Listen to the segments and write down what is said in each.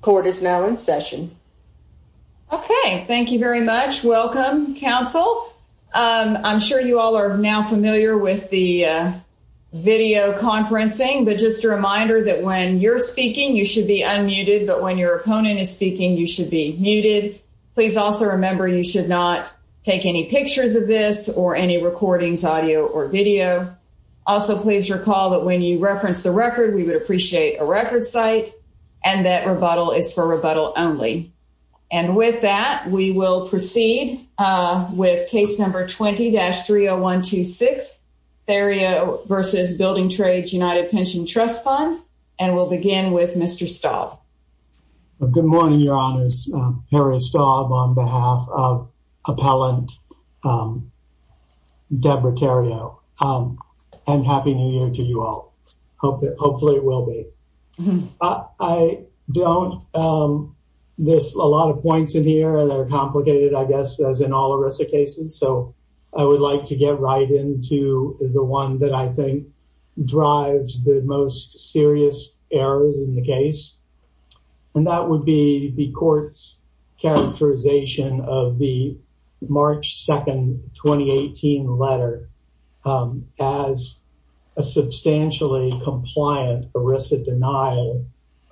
Court is now in session. Okay, thank you very much. Welcome, counsel. I'm sure you all are now familiar with the video conferencing, but just a reminder that when you're speaking you should be unmuted, but when your opponent is speaking you should be muted. Please also remember you should not take any pictures of this or any recordings, audio, or video. Also please recall that when you reference the record we would appreciate a record site and that rebuttal is for rebuttal only. And with that we will proceed with case number 20-30126 Theriot v. Bldg Trades Untd Pension Trust Fund and we'll begin with Mr. Staub. Good morning, your honors. Harry Staub on behalf of hopefully it will be. I don't, there's a lot of points in here and they're complicated I guess as in all ERISA cases, so I would like to get right into the one that I think drives the most serious errors in the case and that would be the court's characterization of the March 2nd 2018 letter as a substantially compliant ERISA denial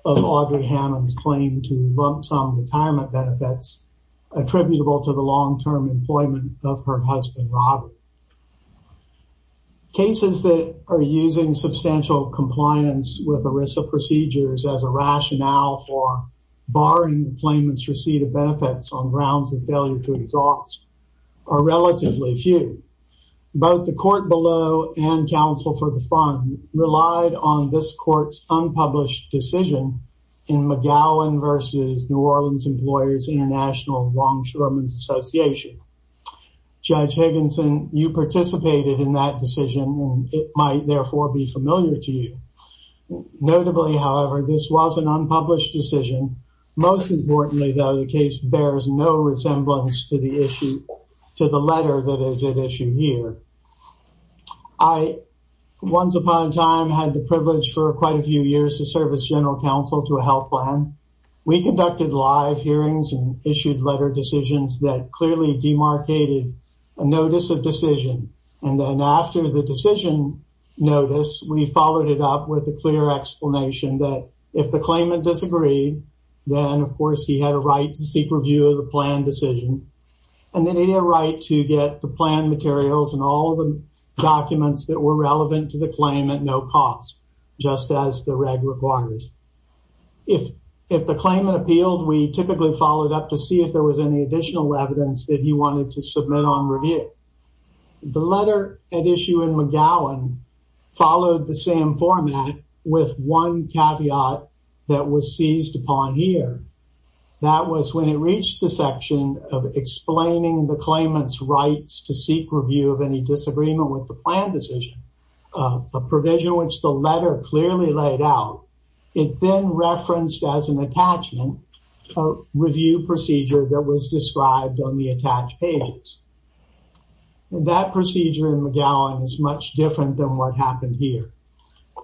of Audrey Hammond's claim to lump-sum retirement benefits attributable to the long-term employment of her husband Robert. Cases that are using substantial compliance with ERISA procedures as a rationale for barring the claimant's receipt of benefits on grounds of failure to exhaust are relatively few. Both the court below and counsel for the relied on this court's unpublished decision in McGowan versus New Orleans Employers International Longshoremen's Association. Judge Higginson, you participated in that decision and it might therefore be familiar to you. Notably, however, this was an unpublished decision. Most importantly, though, the case bears no resemblance to the issue, to the letter that is at issue here. I, once upon a time, had the privilege for quite a few years to serve as general counsel to a health plan. We conducted live hearings and issued letter decisions that clearly demarcated a notice of decision and then after the decision notice, we followed it up with a clear explanation that if the claimant disagreed, then of course he had a right to seek review of the plan decision and then he had a right to get the plan materials and all the documents that were relevant to the claim at no cost, just as the reg requires. If the claimant appealed, we typically followed up to see if there was any additional evidence that he wanted to submit on review. The letter at issue in McGowan followed the same format with one caveat that was seized upon here. That was when it reached the section of explaining the claimant's rights to seek review of any disagreement with the plan decision, a provision which the letter clearly laid out. It then referenced as an attachment a review procedure that was described on the attached pages. That procedure in McGowan is much different than what happened here.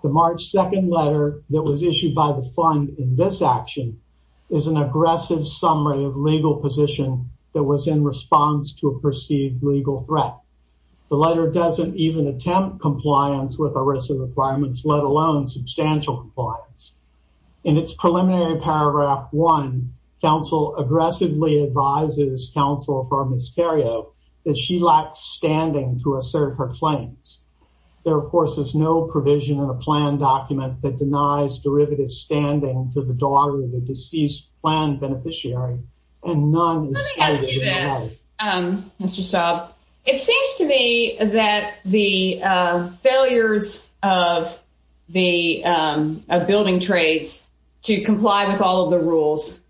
The March 2nd letter that was issued by the fund in this action is an aggressive summary of legal position that was in response to a perceived legal threat. The letter doesn't even attempt compliance with ERISA requirements, let alone substantial compliance. In its preliminary paragraph one, counsel aggressively advises counsel for Miscario that she lacks standing to assert her claims. There of course is no provision in a plan document that denies derivative standing to the daughter of the deceased plan beneficiary and none is cited in that. Let me ask you this, Mr. Staub. It seems to me that the failures of building trades to comply with all of the rules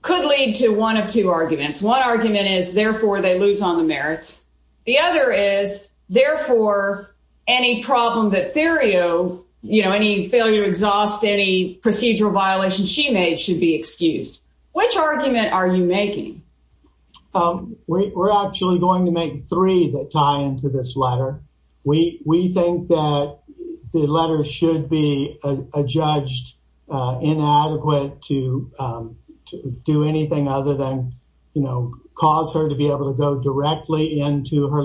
could lead to one of two arguments. One argument is therefore they lose on the merits. The other is therefore any problem that Miscario, you know any failure exhaust any procedural violation she made should be excused. Which argument are you making? We're actually going to make three that tie into this letter. We think that the letter should be a judged inadequate to do anything other than you know cause her to be able to go directly into her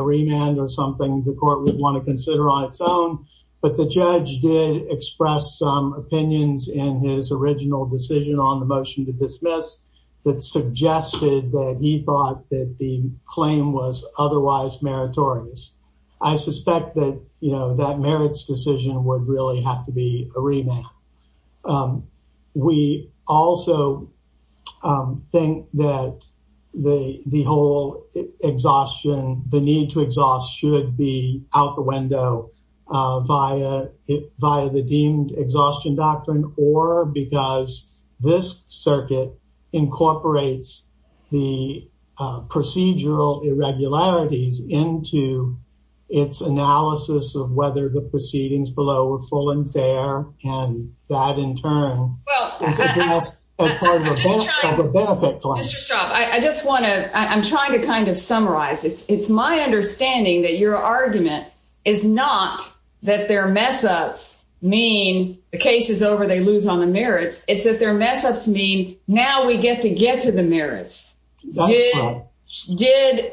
remand or something the court would want to consider on its own. But the judge did express some opinions in his original decision on the motion to dismiss that suggested that he thought that the claim was otherwise meritorious. I suspect that you know that merits decision would really have to be a remand. We also think that the whole exhaustion, the need to exhaust should be out the window via the deemed exhaustion doctrine or because this circuit incorporates the procedural irregularities into its analysis of whether the proceedings below were full and fair and died in time as part of a benefit claim. Mr. Straub I just want to I'm trying to kind of summarize. It's my understanding that your argument is not that their mess-ups mean the case is over they lose on the merits. It's that their mess-ups mean now we get to get to the merits. Did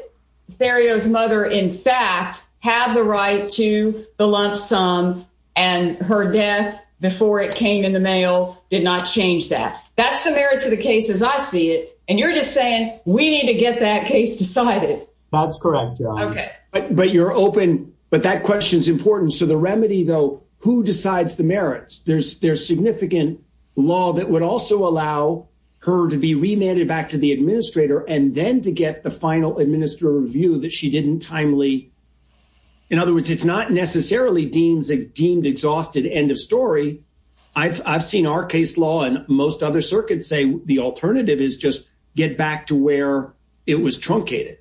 Theriot's mother in fact have the right to the lump sum and her death before it came in the mail did not change that. That's the merits of the case as I see it and you're just saying we need to get that case decided. Bob's correct. Okay but you're open but that question's important. So the remedy though who decides the merits? There's significant law that would also allow her to be remanded back to the administrator and then to get the final administrative review that she didn't timely. In other words it's not necessarily deemed exhausted end of story. I've seen our case law and most other circuits say the alternative is just get back to where it was truncated.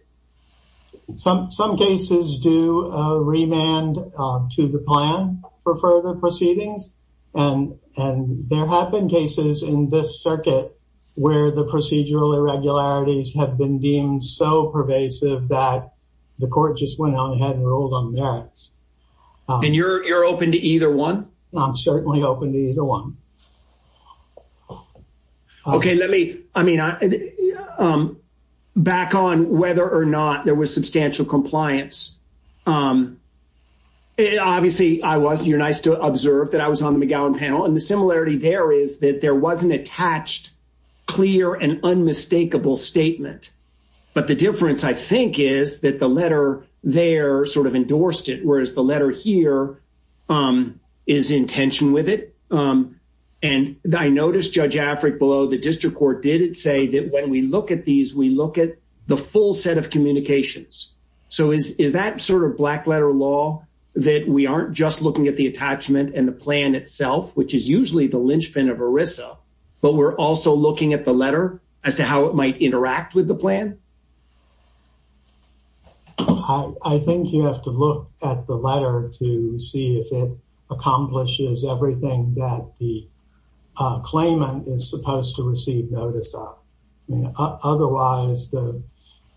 Some cases do remand to the plan for further proceedings and there have been cases in this circuit where the procedural irregularities have been deemed so pervasive that the court just went on ahead and ruled on merits. And you're open to either one? I'm certainly open to either one. Okay let me I mean back on whether or not there was substantial compliance. Obviously I was you're nice to observe that I was on the McGowan panel and the similarity there is that there was an attached clear and unmistakable statement but the difference I think is that the letter here is in tension with it and I noticed Judge Afric below the district court did it say that when we look at these we look at the full set of communications. So is that sort of black letter law that we aren't just looking at the attachment and the plan itself which is usually the linchpin of ERISA but we're also looking at the letter as to how it might interact with the plan? I think you have to look at the letter to see if it accomplishes everything that the claimant is supposed to receive notice of. I mean otherwise the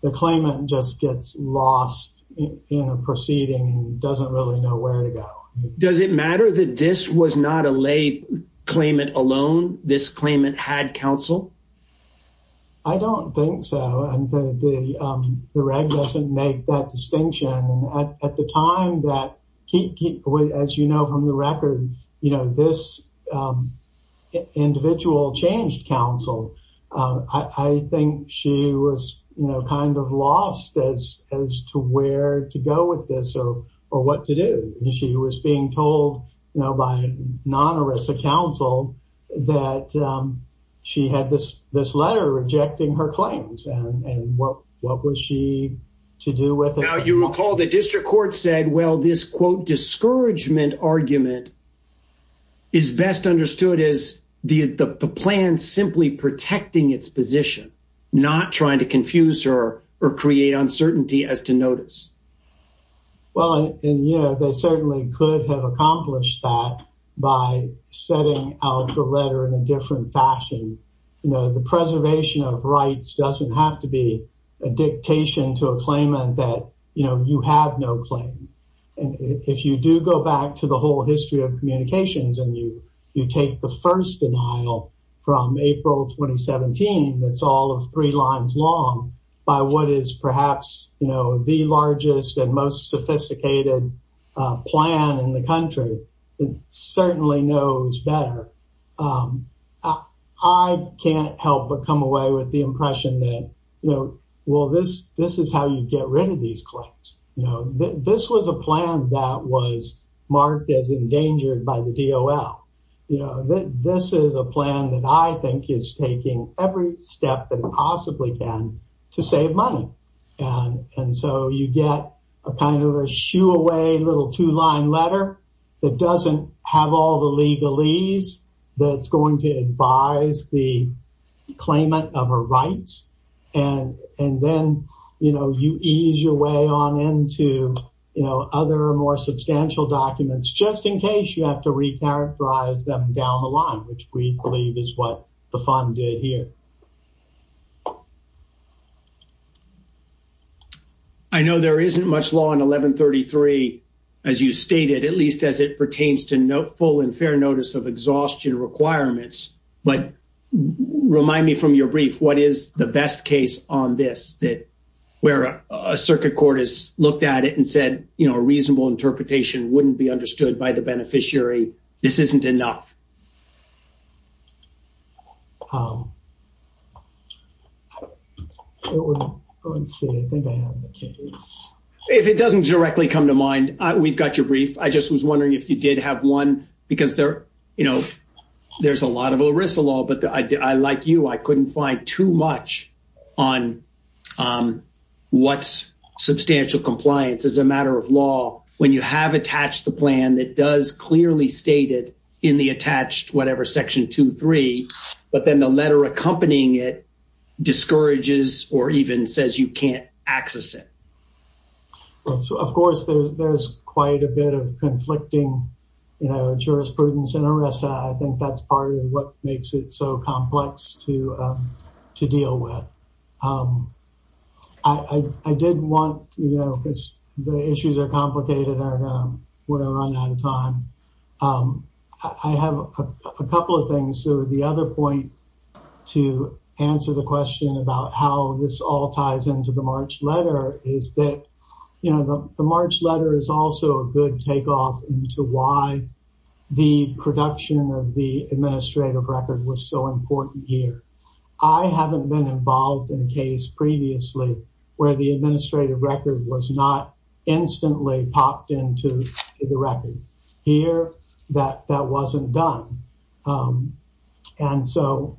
the claimant just gets lost in a proceeding and doesn't really know where to go. Does it matter that this was not a lay claimant alone? This claimant had counsel? I don't think so and the reg doesn't make that distinction and at the time that as you know from the record you know this individual changed counsel. I think she was you know kind of lost as to where to go with this or what to do. She was being told you know by non-ERISA counsel that she had this this letter rejecting her claims and and what what was she to do with it? Now you recall the district court said well this quote discouragement argument is best understood as the the plan simply protecting its position not trying to confuse her or create uncertainty as to notice. Well and you know they certainly could have accomplished that by setting out the letter in a different fashion. You know the preservation of rights doesn't have to be a dictation to a claimant that you know you have no claim and if you do go back to the whole history of communications and you you take the first denial from April 2017 that's all of three lines long by what is perhaps you know the largest and most sophisticated plan in the country it certainly knows better. I can't help but come away with the impression that you know well this this is how you get rid these claims. You know this was a plan that was marked as endangered by the DOL. You know that this is a plan that I think is taking every step that it possibly can to save money and and so you get a kind of a shoo away little two-line letter that doesn't have all the legalese that's going to weigh on into you know other more substantial documents just in case you have to re-characterize them down the line which we believe is what the fund did here. I know there isn't much law in 1133 as you stated at least as it pertains to full and fair notice of exhaustion requirements but remind me from your brief what is the best case on this that where a circuit court has looked at it and said you know a reasonable interpretation wouldn't be understood by the beneficiary this isn't enough. If it doesn't directly come to mind we've got your brief I just was wondering if you did have one because there you know there's a lot of ERISA law but I like you I couldn't find too much on what's substantial compliance as a matter of law when you have attached the plan that does clearly state it in the attached whatever section 2-3 but then the letter accompanying it discourages or even says you can't access it. So of course there's there's quite a bit of conflicting you know jurisprudence and ERISA I think that's part of what makes it so complex to to deal with. I did want you know because the issues are complicated and I'm going to run out of time. I have a couple of things so the other point to answer the question about how this all ties into the March letter is that you know the March letter is also a good takeoff into why the production of the administrative record was so important here. I haven't been involved in a case previously where the administrative record was not instantly popped into the record here that that wasn't done and so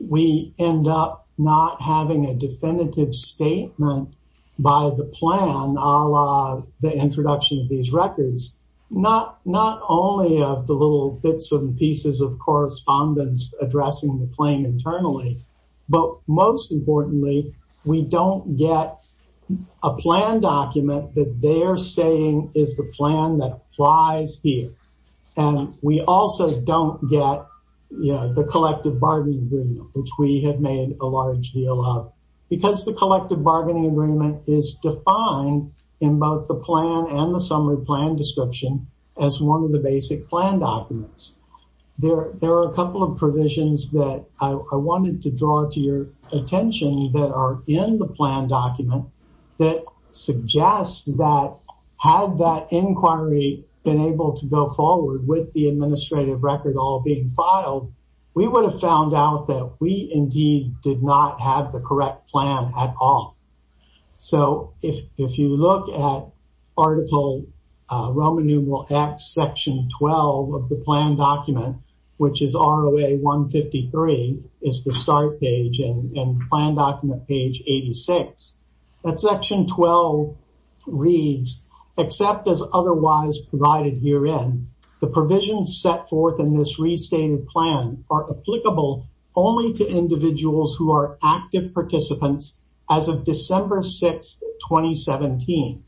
we end up not having a definitive statement by the plan a la the introduction of these records not not only of the little bits and pieces of correspondence addressing the claim internally but most importantly we don't get a plan document that they're saying is the plan that applies here and we also don't get you know the collective bargaining agreement which we have made a large deal of because the collective bargaining agreement is defined in both the plan and the summary plan description as one of the basic plan documents. There are a couple of provisions that I wanted to draw to your attention that are in the plan document that suggest that had that inquiry been able to go forward with the administrative record all being filed we would have found out that we indeed did not have the so if if you look at article Roman numeral x section 12 of the plan document which is ROA 153 is the start page and plan document page 86 that section 12 reads except as otherwise provided herein the provisions set forth in this restated plan are applicable only to individuals who are active participants as of December 6th 2017.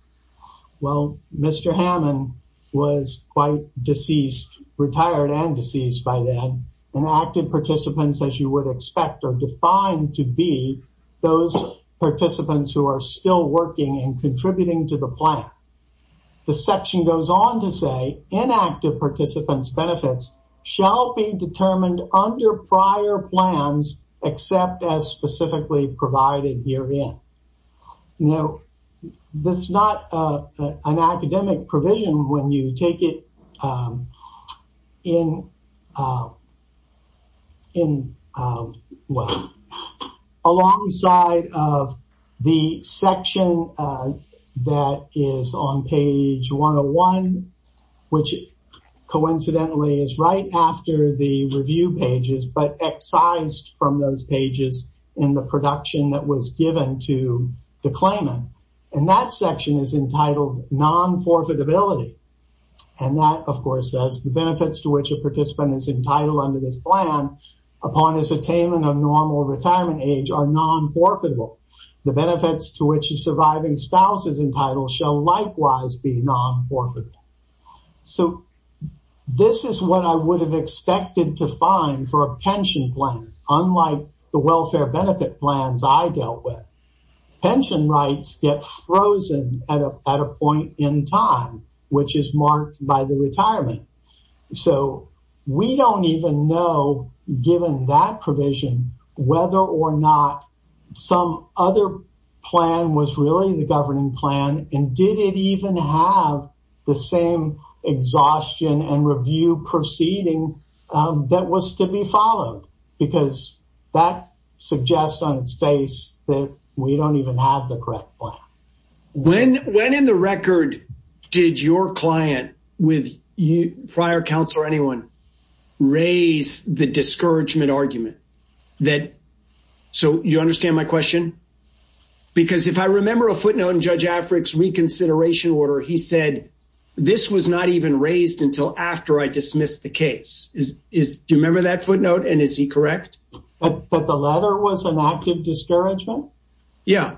Well Mr. Hammond was quite deceased retired and deceased by then and active participants as you would expect are defined to be those participants who are still working and contributing to the plan. The section goes on to say inactive participants benefits shall be determined under prior plans except as specifically provided herein. Now that's not an academic provision when you take it in in well alongside of the section that is on page 101 which coincidentally is right after the review pages but excised from those pages in the production that was given to the claimant and that section is entitled non-forfeitability and that of course says the benefits to which participant is entitled under this plan upon his attainment of normal retirement age are non-forfeitable. The benefits to which his surviving spouse is entitled shall likewise be non-forfeit. So this is what I would have expected to find for a pension plan unlike the welfare benefit plans I dealt with. Pension rights get frozen at a point in time which is marked by the retirement. So we don't even know given that provision whether or not some other plan was really the governing plan and did it even have the same exhaustion and review proceeding that was to be followed because that suggests on its face that we don't even have the correct plan. When in the record did your client with prior counsel or anyone raise the discouragement argument that so you understand my question because if I remember a footnote in Judge Afric's reconsideration order he said this was not even raised until after I dismissed the case. Do you remember that footnote and is he correct? But the letter was an active discouragement? Yeah.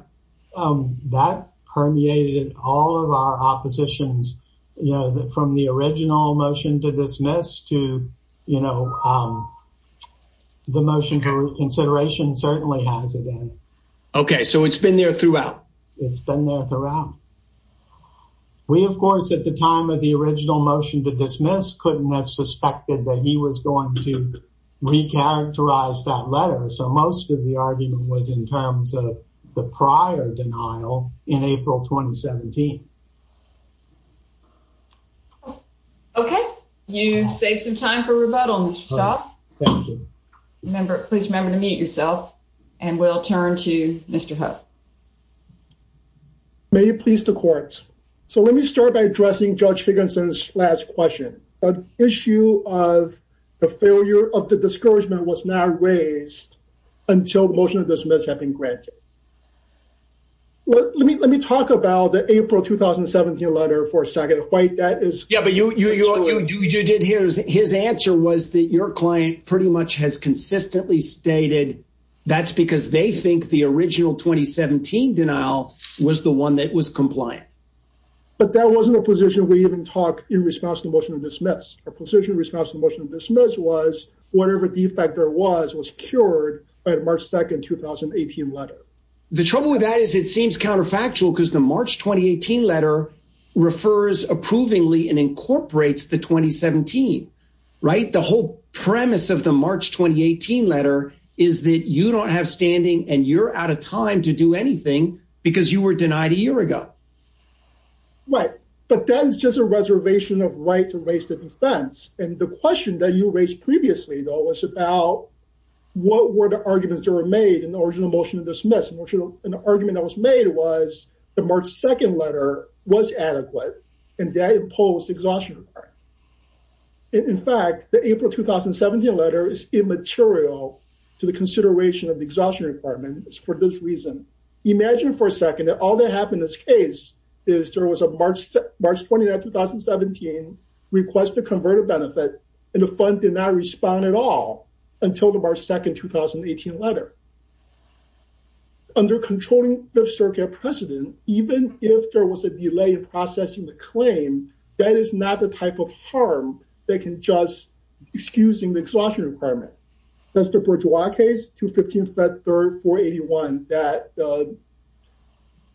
That permeated all of our oppositions you know from the original motion to dismiss to you know the motion for reconsideration certainly has it in. Okay so it's been there throughout? It's been there throughout. We of course at the time of the original motion to dismiss couldn't have suspected that he was going to re-characterize that letter so most of the prior denial in April 2017. Okay you saved some time for rebuttal Mr. Shaw. Please remember to mute yourself and we'll turn to Mr. Ho. May it please the court so let me start by addressing Judge Higginson's last question. An issue of the failure of the discouragement was not raised until the motion to dismiss had been granted. Let me talk about the April 2017 letter for a second. His answer was that your client pretty much has consistently stated that's because they think the original 2017 denial was the one that was compliant. But that wasn't a position we even talk in response to the motion to dismiss. Our position response to the motion to dismiss was whatever defect there was was cured by the March 2nd 2018 letter. The trouble with that is it seems counterfactual because the March 2018 letter refers approvingly and incorporates the 2017. Right the whole premise of the March 2018 letter is that you don't have standing and you're out of time to do anything because you were denied a year ago. Right but that is just a reservation of right to raise the defense and the question that you raised previously though was about what were the arguments that were made in the original motion to dismiss. An argument that was made was the March 2nd letter was adequate and that imposed exhaustion. In fact the April 2017 letter is immaterial to the consideration of the exhaustion requirement for this reason. Imagine for a second that all that happened in this case is there was a March 29, 2017 request to convert a benefit and the fund did not respond at all until the March 2nd 2018 letter. Under controlling the circuit precedent even if there was a delay in processing the claim that is not the type of harm that can just excusing the exhaustion requirement. That's to 15th, 3rd, 481 that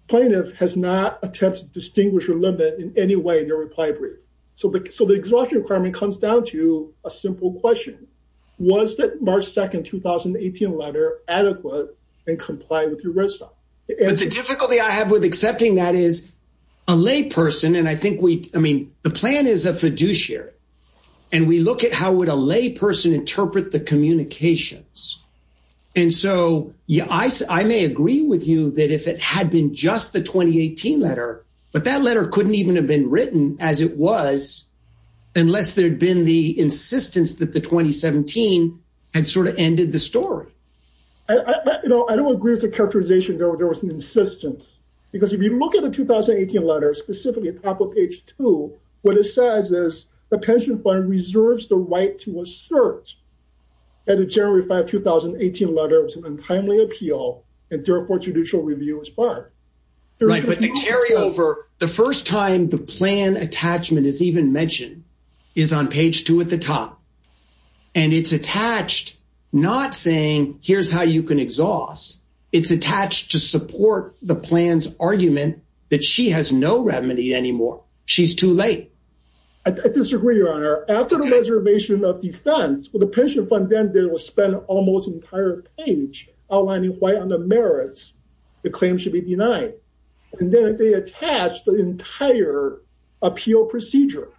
plaintiff has not attempted to distinguish or limit in any way their reply brief. So the exhaustion requirement comes down to a simple question. Was that March 2nd, 2018 letter adequate and comply with your red stop? The difficulty I have with accepting that is a lay person and I think we I mean the plan is a fiduciary and we look at how would a lay person interpret the communications. And so yeah I may agree with you that if it had been just the 2018 letter but that letter couldn't even have been written as it was unless there'd been the insistence that the 2017 had sort of ended the story. I don't agree with the characterization there was an insistence because if you look at the 2018 letters specifically at the top of page two what it says is the pension fund reserves the right to assert that the January 5, 2018 letter was an untimely appeal and therefore judicial review was barred. Right but the carryover the first time the plan attachment is even mentioned is on page two at the top and it's attached not saying here's how you can exhaust it's attached to support the plan's argument that she has no remedy anymore she's too late. I disagree your honor after the reservation of defense for the pension fund then they will spend almost entire page outlining why on the merits the claim should be denied and then they attach the entire appeal procedure.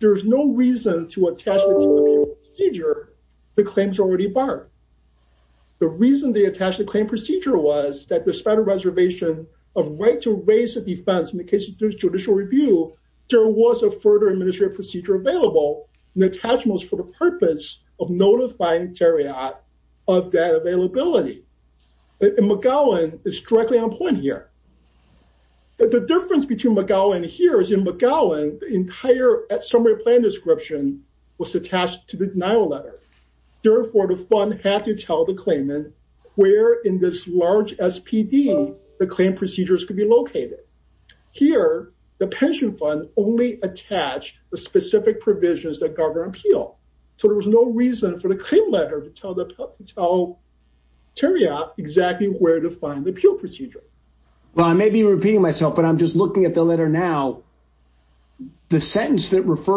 There's no reason to attach the procedure the claims already barred. The reason they attach the claim procedure was that despite a reservation of right to raise the defense in the case of judicial review there was a further administrative procedure available and attachments for the purpose of notifying chariot of that availability. McGowan is directly on point here. The difference between McGowan here is in McGowan the entire summary plan description was attached to the denial letter therefore the fund had to tell the claimant where in this large SPD the claim procedures could be located. Here the pension fund only attached the specific provisions that govern appeal so there was no reason for the claim letter to tell the tell terrier exactly where to find the appeal procedure. Well I may refer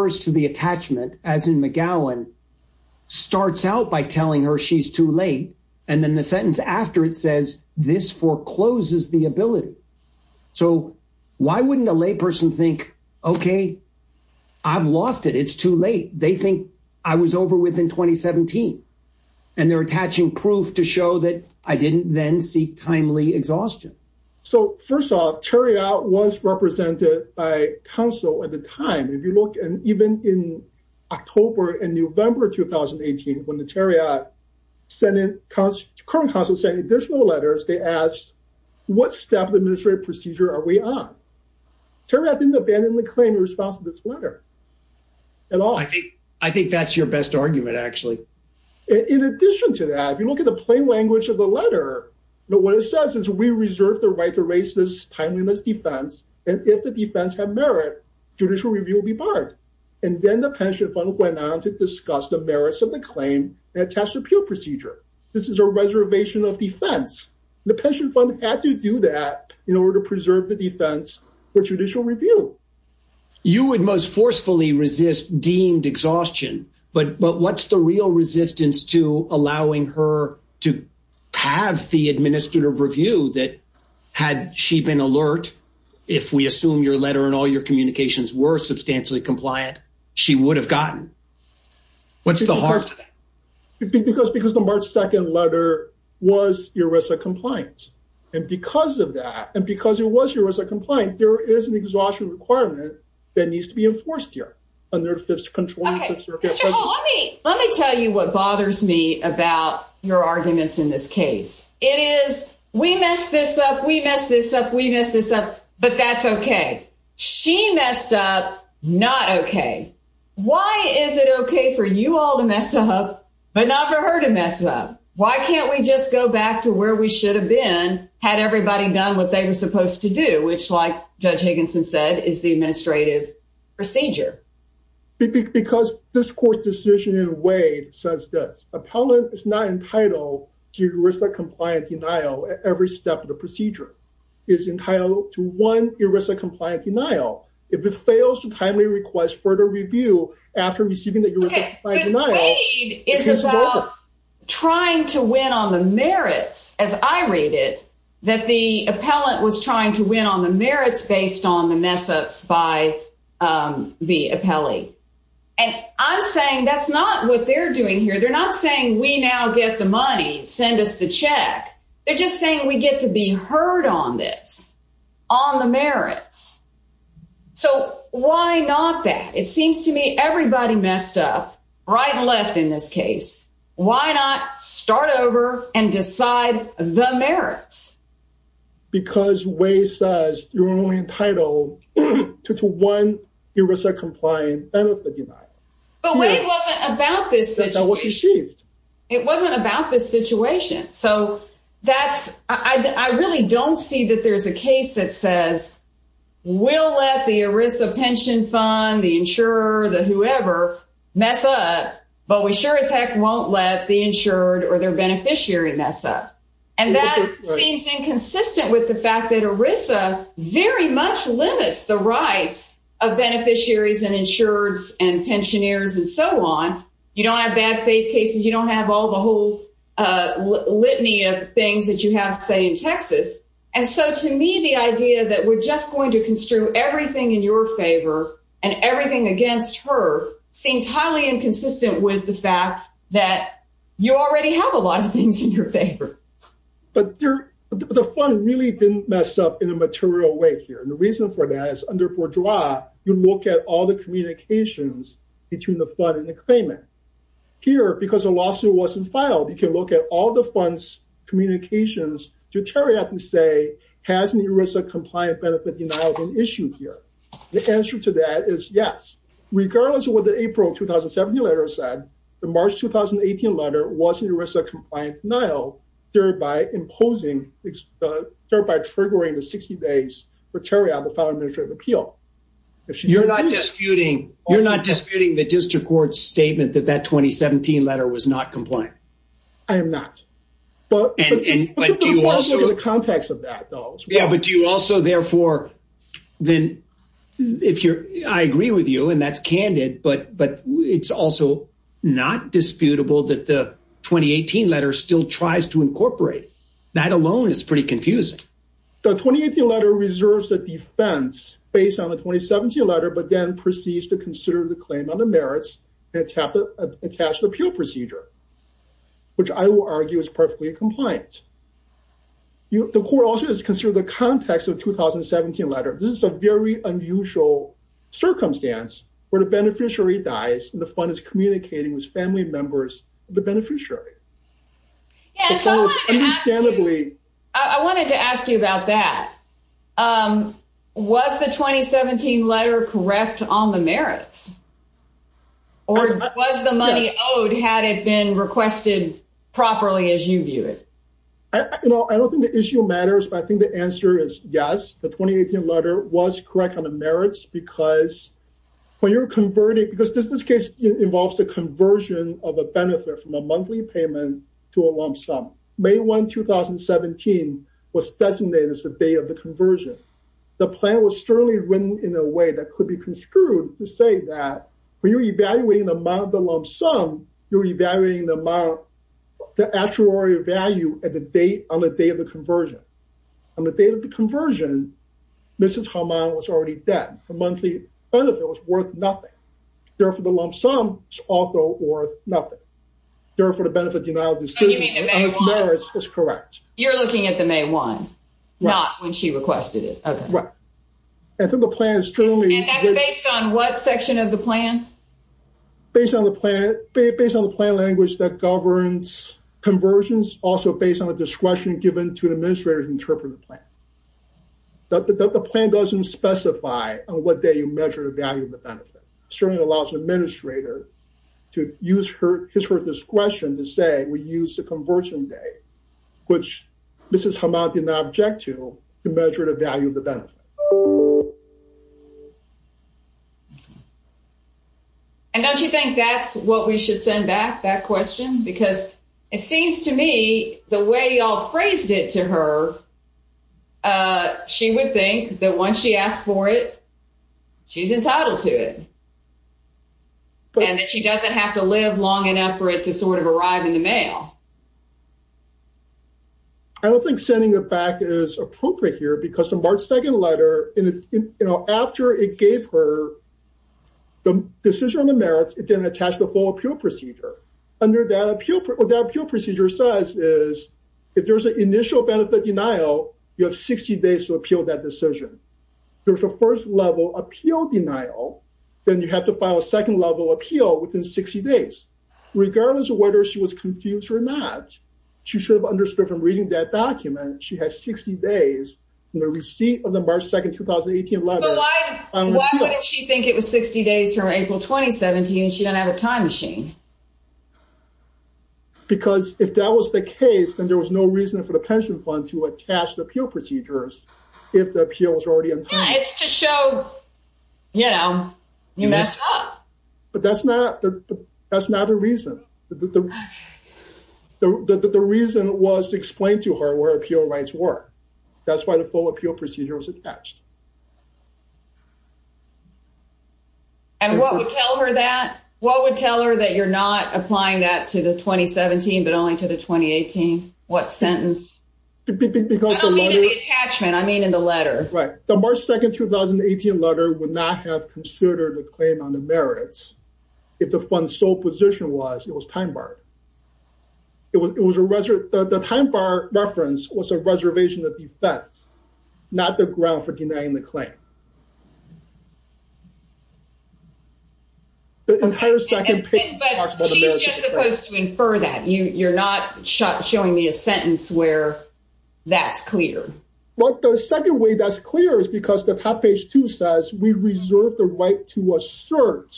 to the attachment as in McGowan starts out by telling her she's too late and then the sentence after it says this forecloses the ability. So why wouldn't a lay person think okay I've lost it it's too late they think I was over with in 2017 and they're attaching proof to show that I didn't then seek timely exhaustion. So first off Terry out was represented by council at the time if you look and even in October and November 2018 when the terrier senate cause current council sent additional letters they asked what step of administrative procedure are we on terry I didn't abandon the claim in response to this letter at all. I think I think that's your best argument actually. In addition to that if you look at the plain language of the letter but what it says is we reserve the right to raise this timeliness defense and if the defense had merit judicial review will be barred and then the pension fund went on to discuss the merits of the claim and attached appeal procedure. This is a reservation of defense the pension fund had to do that in order to preserve the defense for judicial review. You would most forcefully resist deemed exhaustion but but what's the real resistance to if we assume your letter and all your communications were substantially compliant she would have gotten what's the heart of that? Because because the March 2nd letter was ERISA compliant and because of that and because it was ERISA compliant there is an exhaustion requirement that needs to be enforced here under fifth circuit. Let me tell you what bothers me about your arguments in this case it is we messed this up we messed this up we messed this up but that's okay. She messed up not okay. Why is it okay for you all to mess up but not for her to mess up? Why can't we just go back to where we should have been had everybody done what they were supposed to do which like Judge Higginson said is the administrative procedure. Because this court decision in a way says that appellant is not entitled to ERISA compliant every step of the procedure is entitled to one ERISA compliant denial if it fails to timely request further review after receiving the ERISA compliant denial. Trying to win on the merits as I read it that the appellant was trying to win on the merits based on the mess-ups by the appellee and I'm saying that's not what they're doing here they're not saying we now get the money send us the check they're just saying we get to be heard on this on the merits. So why not that it seems to me everybody messed up right and left in this case why not start over and decide the merits. Because way says you're only entitled to one ERISA compliant benefit denial. But when it wasn't about this it wasn't about this situation so that's I really don't see that there's a case that says we'll let the ERISA pension fund the insurer the whoever mess up but we sure as heck won't let the insured or their beneficiary mess up and that seems inconsistent with the fact that ERISA very much limits the rights of beneficiaries and insureds and pensioners and so on you don't have bad faith cases you don't have all the whole litany of things that you have say in Texas and so to me the idea that we're just going to construe everything in your favor and everything against her seems highly inconsistent with the fact that you already have a lot of things in your favor. But the fund really didn't mess up in a you look at all the communications between the fund and the claimant here because the lawsuit wasn't filed you can look at all the funds communications to terry up and say has an ERISA compliant benefit denial been issued here the answer to that is yes regardless of what the april 2017 letter said the march 2018 letter was an ERISA compliant denial thereby imposing thereby triggering the 60 days for terry apple file administrative appeal if you're not disputing you're not disputing the district court's statement that that 2017 letter was not compliant i am not but and but do you also the context of that though yeah but do you also therefore then if you're i agree with you and that's candid but but it's also not disputable that the 2018 letter still tries to incorporate that alone is pretty confusing the 2018 letter reserves a defense based on the 2017 letter but then proceeds to consider the claim on the merits and attach the appeal procedure which i will argue is perfectly compliant you the court also is considered the context of 2017 letter this is a very unusual circumstance where the beneficiary dies and the fund is communicating with family members the beneficiary understandably i wanted to ask you about that um was the 2017 letter correct on the merits or was the money owed had it been requested properly as you view it i you know i don't think the issue matters but i think the answer is yes the 2018 letter was correct on the merits because when you're converting because this case involves the conversion of a benefit from a monthly payment to a lump sum may 1 2017 was designated as the day of the conversion the plan was certainly written in a way that could be construed to say that when you're evaluating the amount of the lump sum you're evaluating the amount the actuary value at the date on the day of the conversion on the date of the conversion mrs harman was already dead the monthly benefit was worth nothing therefore the lump sum is also worth nothing therefore the benefit denial decision is correct you're looking at the may 1 not when she requested it okay right i think the plan is based on what section of the plan based on the plan based on the plan language that governs conversions also based on the discretion given to an administrator interpret the plan that the plan doesn't specify on what day you measure the value of the benefit certainly allows the administrator to use her his her discretion to say we use the conversion day which mrs jamal did not object to to measure the value of the benefit and don't you think that's what we should send back that question because it seems to me the way y'all phrased it to her uh she would think that once she asked for it she's entitled to it and that she doesn't have to live long enough for it to sort of arrive in the mail i don't think sending it back is appropriate here because the march 2nd letter in you know after it gave her the decision on the merits it didn't attach the full appeal procedure under that appeal what that appeal procedure says is if there's an initial benefit denial you have 60 days to appeal that decision there's a first level appeal denial then you have to file a second level appeal within 60 days regardless of whether she was confused or not she should have understood from reading that document she has 60 days in the receipt of the march 2nd 2018 why wouldn't she think it was 60 days from april 2017 and she don't have a time machine because if that was the case then there was no reason for the pension fund to attach the appeal procedures if the appeal is already in place it's to show you know you messed up but that's not the that's not a reason the the the reason was to explain to her where appeal rights were that's why the full appeal procedure was attached and what would tell her that what would tell her that you're not applying that to the 2017 but only to the 2018 what sentence because the attachment i mean in the letter right the march 2nd 2018 letter would not have considered a claim on the merits if the fund sole position was it was time barred it was it was a reserve the time bar reference was a reservation of defense not the ground for denying the claim the entire second but she's just supposed to infer that you you're not shut showing me a sentence where that's clear what the second way that's clear is because the top page two says we reserve the right to assert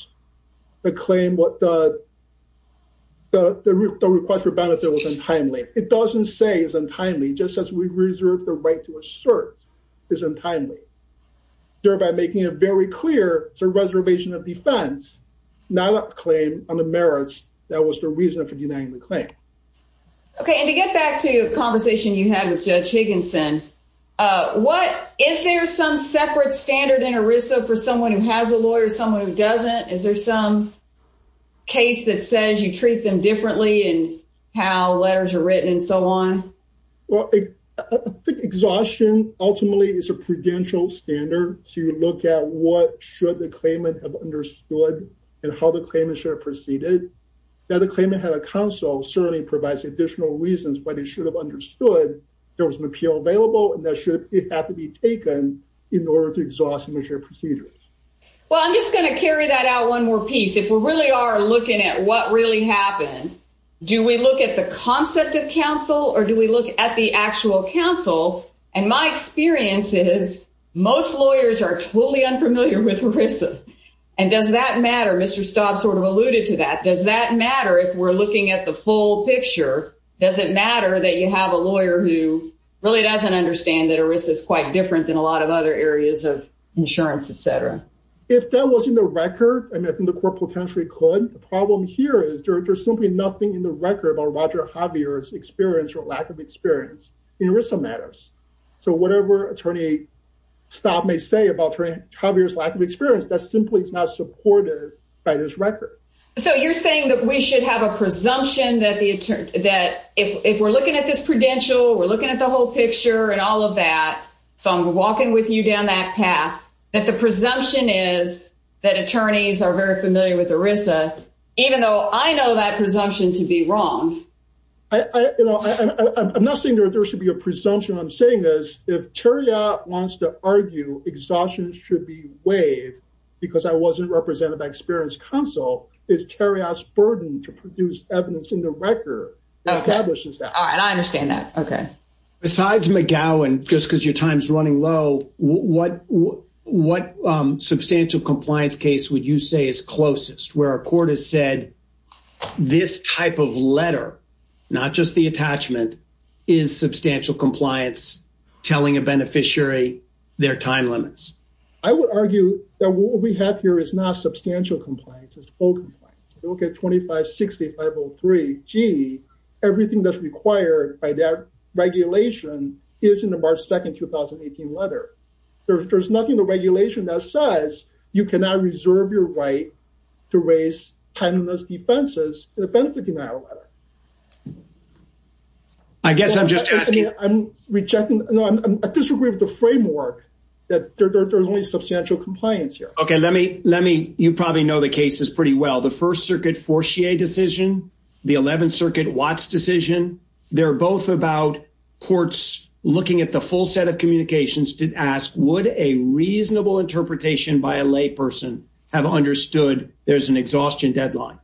the claim what the the request for benefit was untimely it doesn't say is untimely just as we reserve the right to assert is untimely thereby making it very clear it's a reservation of defense not a claim on the merits that was the reason for denying the claim okay and to get back to the conversation you had with judge higginson uh what is there some separate standard in erisa for someone who has a case that says you treat them differently and how letters are written and so on well i think exhaustion ultimately is a prudential standard so you look at what should the claimant have understood and how the claimant should have proceeded now the claimant had a counsel certainly provides additional reasons but it should have understood there was an appeal available and that should it have to be taken in order to exhaust immature procedures well i'm just going to carry that out one more piece if we really are looking at what really happened do we look at the concept of counsel or do we look at the actual counsel and my experience is most lawyers are totally unfamiliar with erisa and does that matter mr staub sort of alluded to that does that matter if we're looking at the full picture does it matter that you have a lawyer who really doesn't understand that erisa is quite different than a if that wasn't a record and i think the court potentially could the problem here is there's simply nothing in the record about roger javier's experience or lack of experience in erisa matters so whatever attorney staub may say about javier's lack of experience that simply is not supported by this record so you're saying that we should have a presumption that the attorney that if we're looking at this prudential we're looking at the whole picture and all of that so i'm walking with you down that path that the presumption is that attorneys are very familiar with erisa even though i know that presumption to be wrong i i you know i'm not saying there should be a presumption i'm saying this if terry wants to argue exhaustion should be waived because i wasn't represented by experience counsel is terry's burden to produce evidence in the record establishes that all right i understand that okay besides mcgowan just because your time's running low what what substantial compliance case would you say is closest where a court has said this type of letter not just the attachment is substantial compliance telling a beneficiary their time limits i would argue that what we have here is not substantial compliance it's full compliance if you look at 25 60 503 g everything that's required by that regulation is in the march 2nd 2018 letter there's nothing the regulation that says you cannot reserve your right to raise timeless defenses in a benefit denial letter i guess i'm just asking i'm rejecting no i disagree with the framework that there's only substantial compliance here okay let me let me you probably know the cases pretty well the first circuit forcier decision the 11th circuit watts decision they're both about courts looking at the full set of communications to ask would a reasonable interpretation by a layperson have understood there's an exhaustion deadline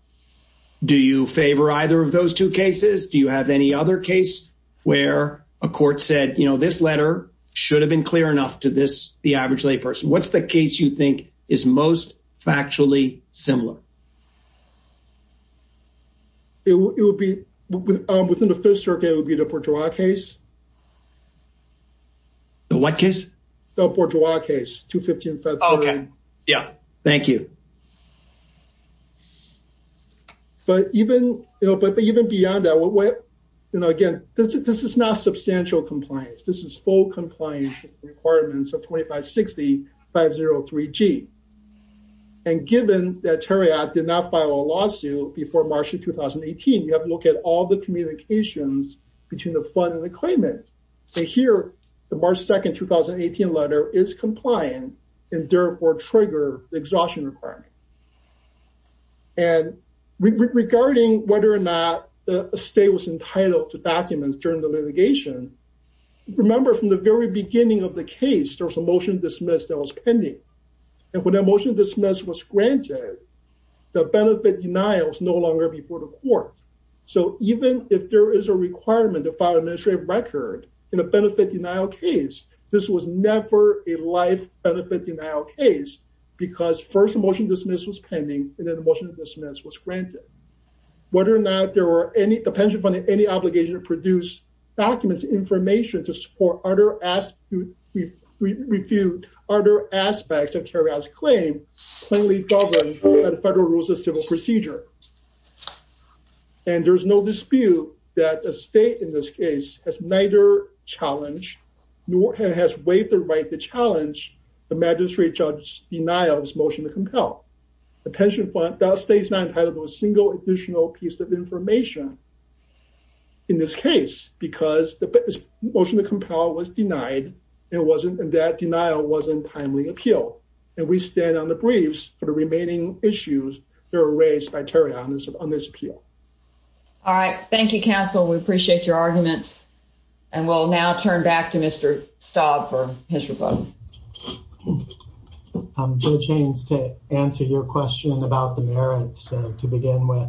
do you favor either of those two cases do you have any other case where a court said you know this letter should have been clear enough to this the average layperson what's the case you think is most factually similar it would be within the fifth circuit would be the bourgeois case the what case the bourgeois case 250 okay yeah thank you but even you know but even beyond that what way you know again this is not substantial compliance this is full compliance requirements of 2560 503 g and given that terry i did not file a lawsuit before march of 2018 you have to look at all the communications between the fund and the claimant so here the march 2nd 2018 letter is compliant and therefore trigger the exhaustion requirement and regarding whether or not the state was entitled to documents during the litigation remember from the very beginning of the case there was a motion dismissed that was pending and when that motion dismissed was granted the benefit denial was no longer before the court so even if there is a requirement to file administrative record in a benefit denial case this was never a life benefit denial case because first motion dismiss was pending and then the motion of dismiss was granted whether or not there were any the pension funding any obligation to documents information to support other ask to refute other aspects of terry's claim federal rules of civil procedure and there's no dispute that a state in this case has neither challenge nor has waived the right to challenge the magistrate judge's denial of his motion to compel the pension fund does states not entitled to a single additional piece of information in this case because the motion to compel was denied it wasn't and that denial wasn't timely appeal and we stand on the briefs for the remaining issues that are raised by terry on this on this appeal all right thank you counsel we appreciate your arguments and we'll now turn back to mr stobb for his rebuttal i'm going to change to answer your question about the merits to begin with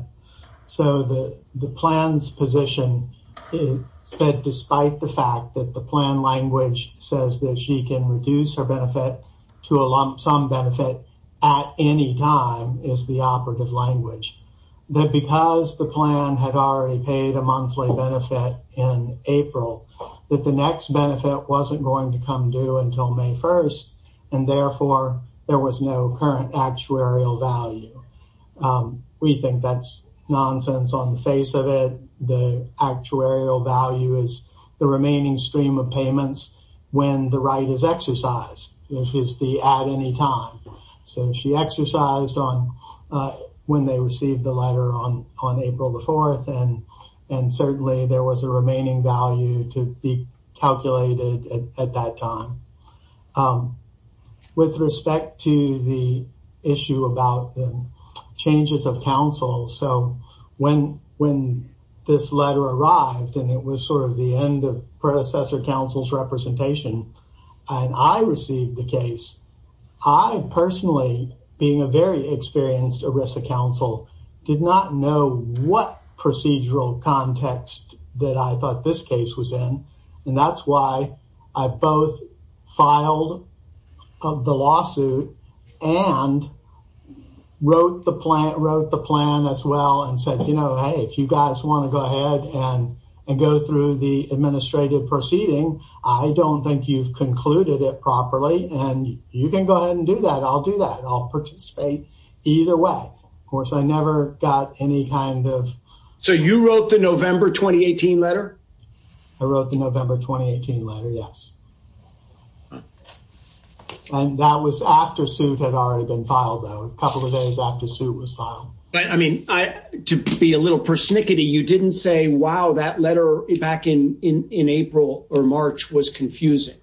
so the the plan's position is that despite the fact that the plan language says that she can reduce her benefit to a lump sum benefit at any time is the operative language that because the plan had already paid a monthly benefit in april that the next benefit wasn't going to come due that's nonsense on the face of it the actuarial value is the remaining stream of payments when the right is exercised which is the at any time so she exercised on uh when they received the letter on on april the fourth and and certainly there was a remaining value to be calculated at so when when this letter arrived and it was sort of the end of predecessor council's representation and i received the case i personally being a very experienced erisa council did not know what procedural context that i thought this case was in and that's why i both filed of the lawsuit and wrote the plant wrote the plan as well and said you know hey if you guys want to go ahead and and go through the administrative proceeding i don't think you've concluded it properly and you can go ahead and do that i'll do that i'll participate either way of course i never got any kind of so you wrote the november 2018 letter i wrote the november 2018 letter yes and that was after suit had already been filed though a couple of days after suit was filed but i mean i to be a little persnickety you didn't say wow that letter back in in in april or march was confusing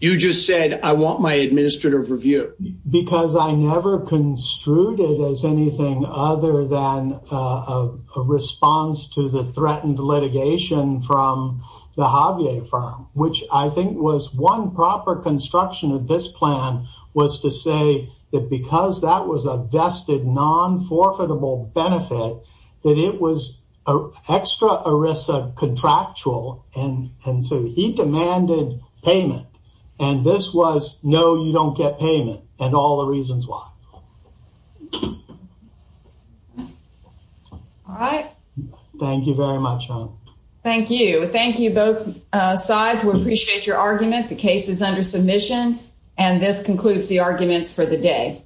you just said i want my administrative review because i never construed it as anything other than a response to the threatened litigation from the javier firm which i think was one proper construction of this plan was to say that because that was a vested non-forfeitable benefit that it was a extra erisa contractual and and so he demanded payment and this was no you don't get payment and all the reasons why all right thank you very much thank you thank you both sides we appreciate your argument the case is under submission and this concludes the arguments for the day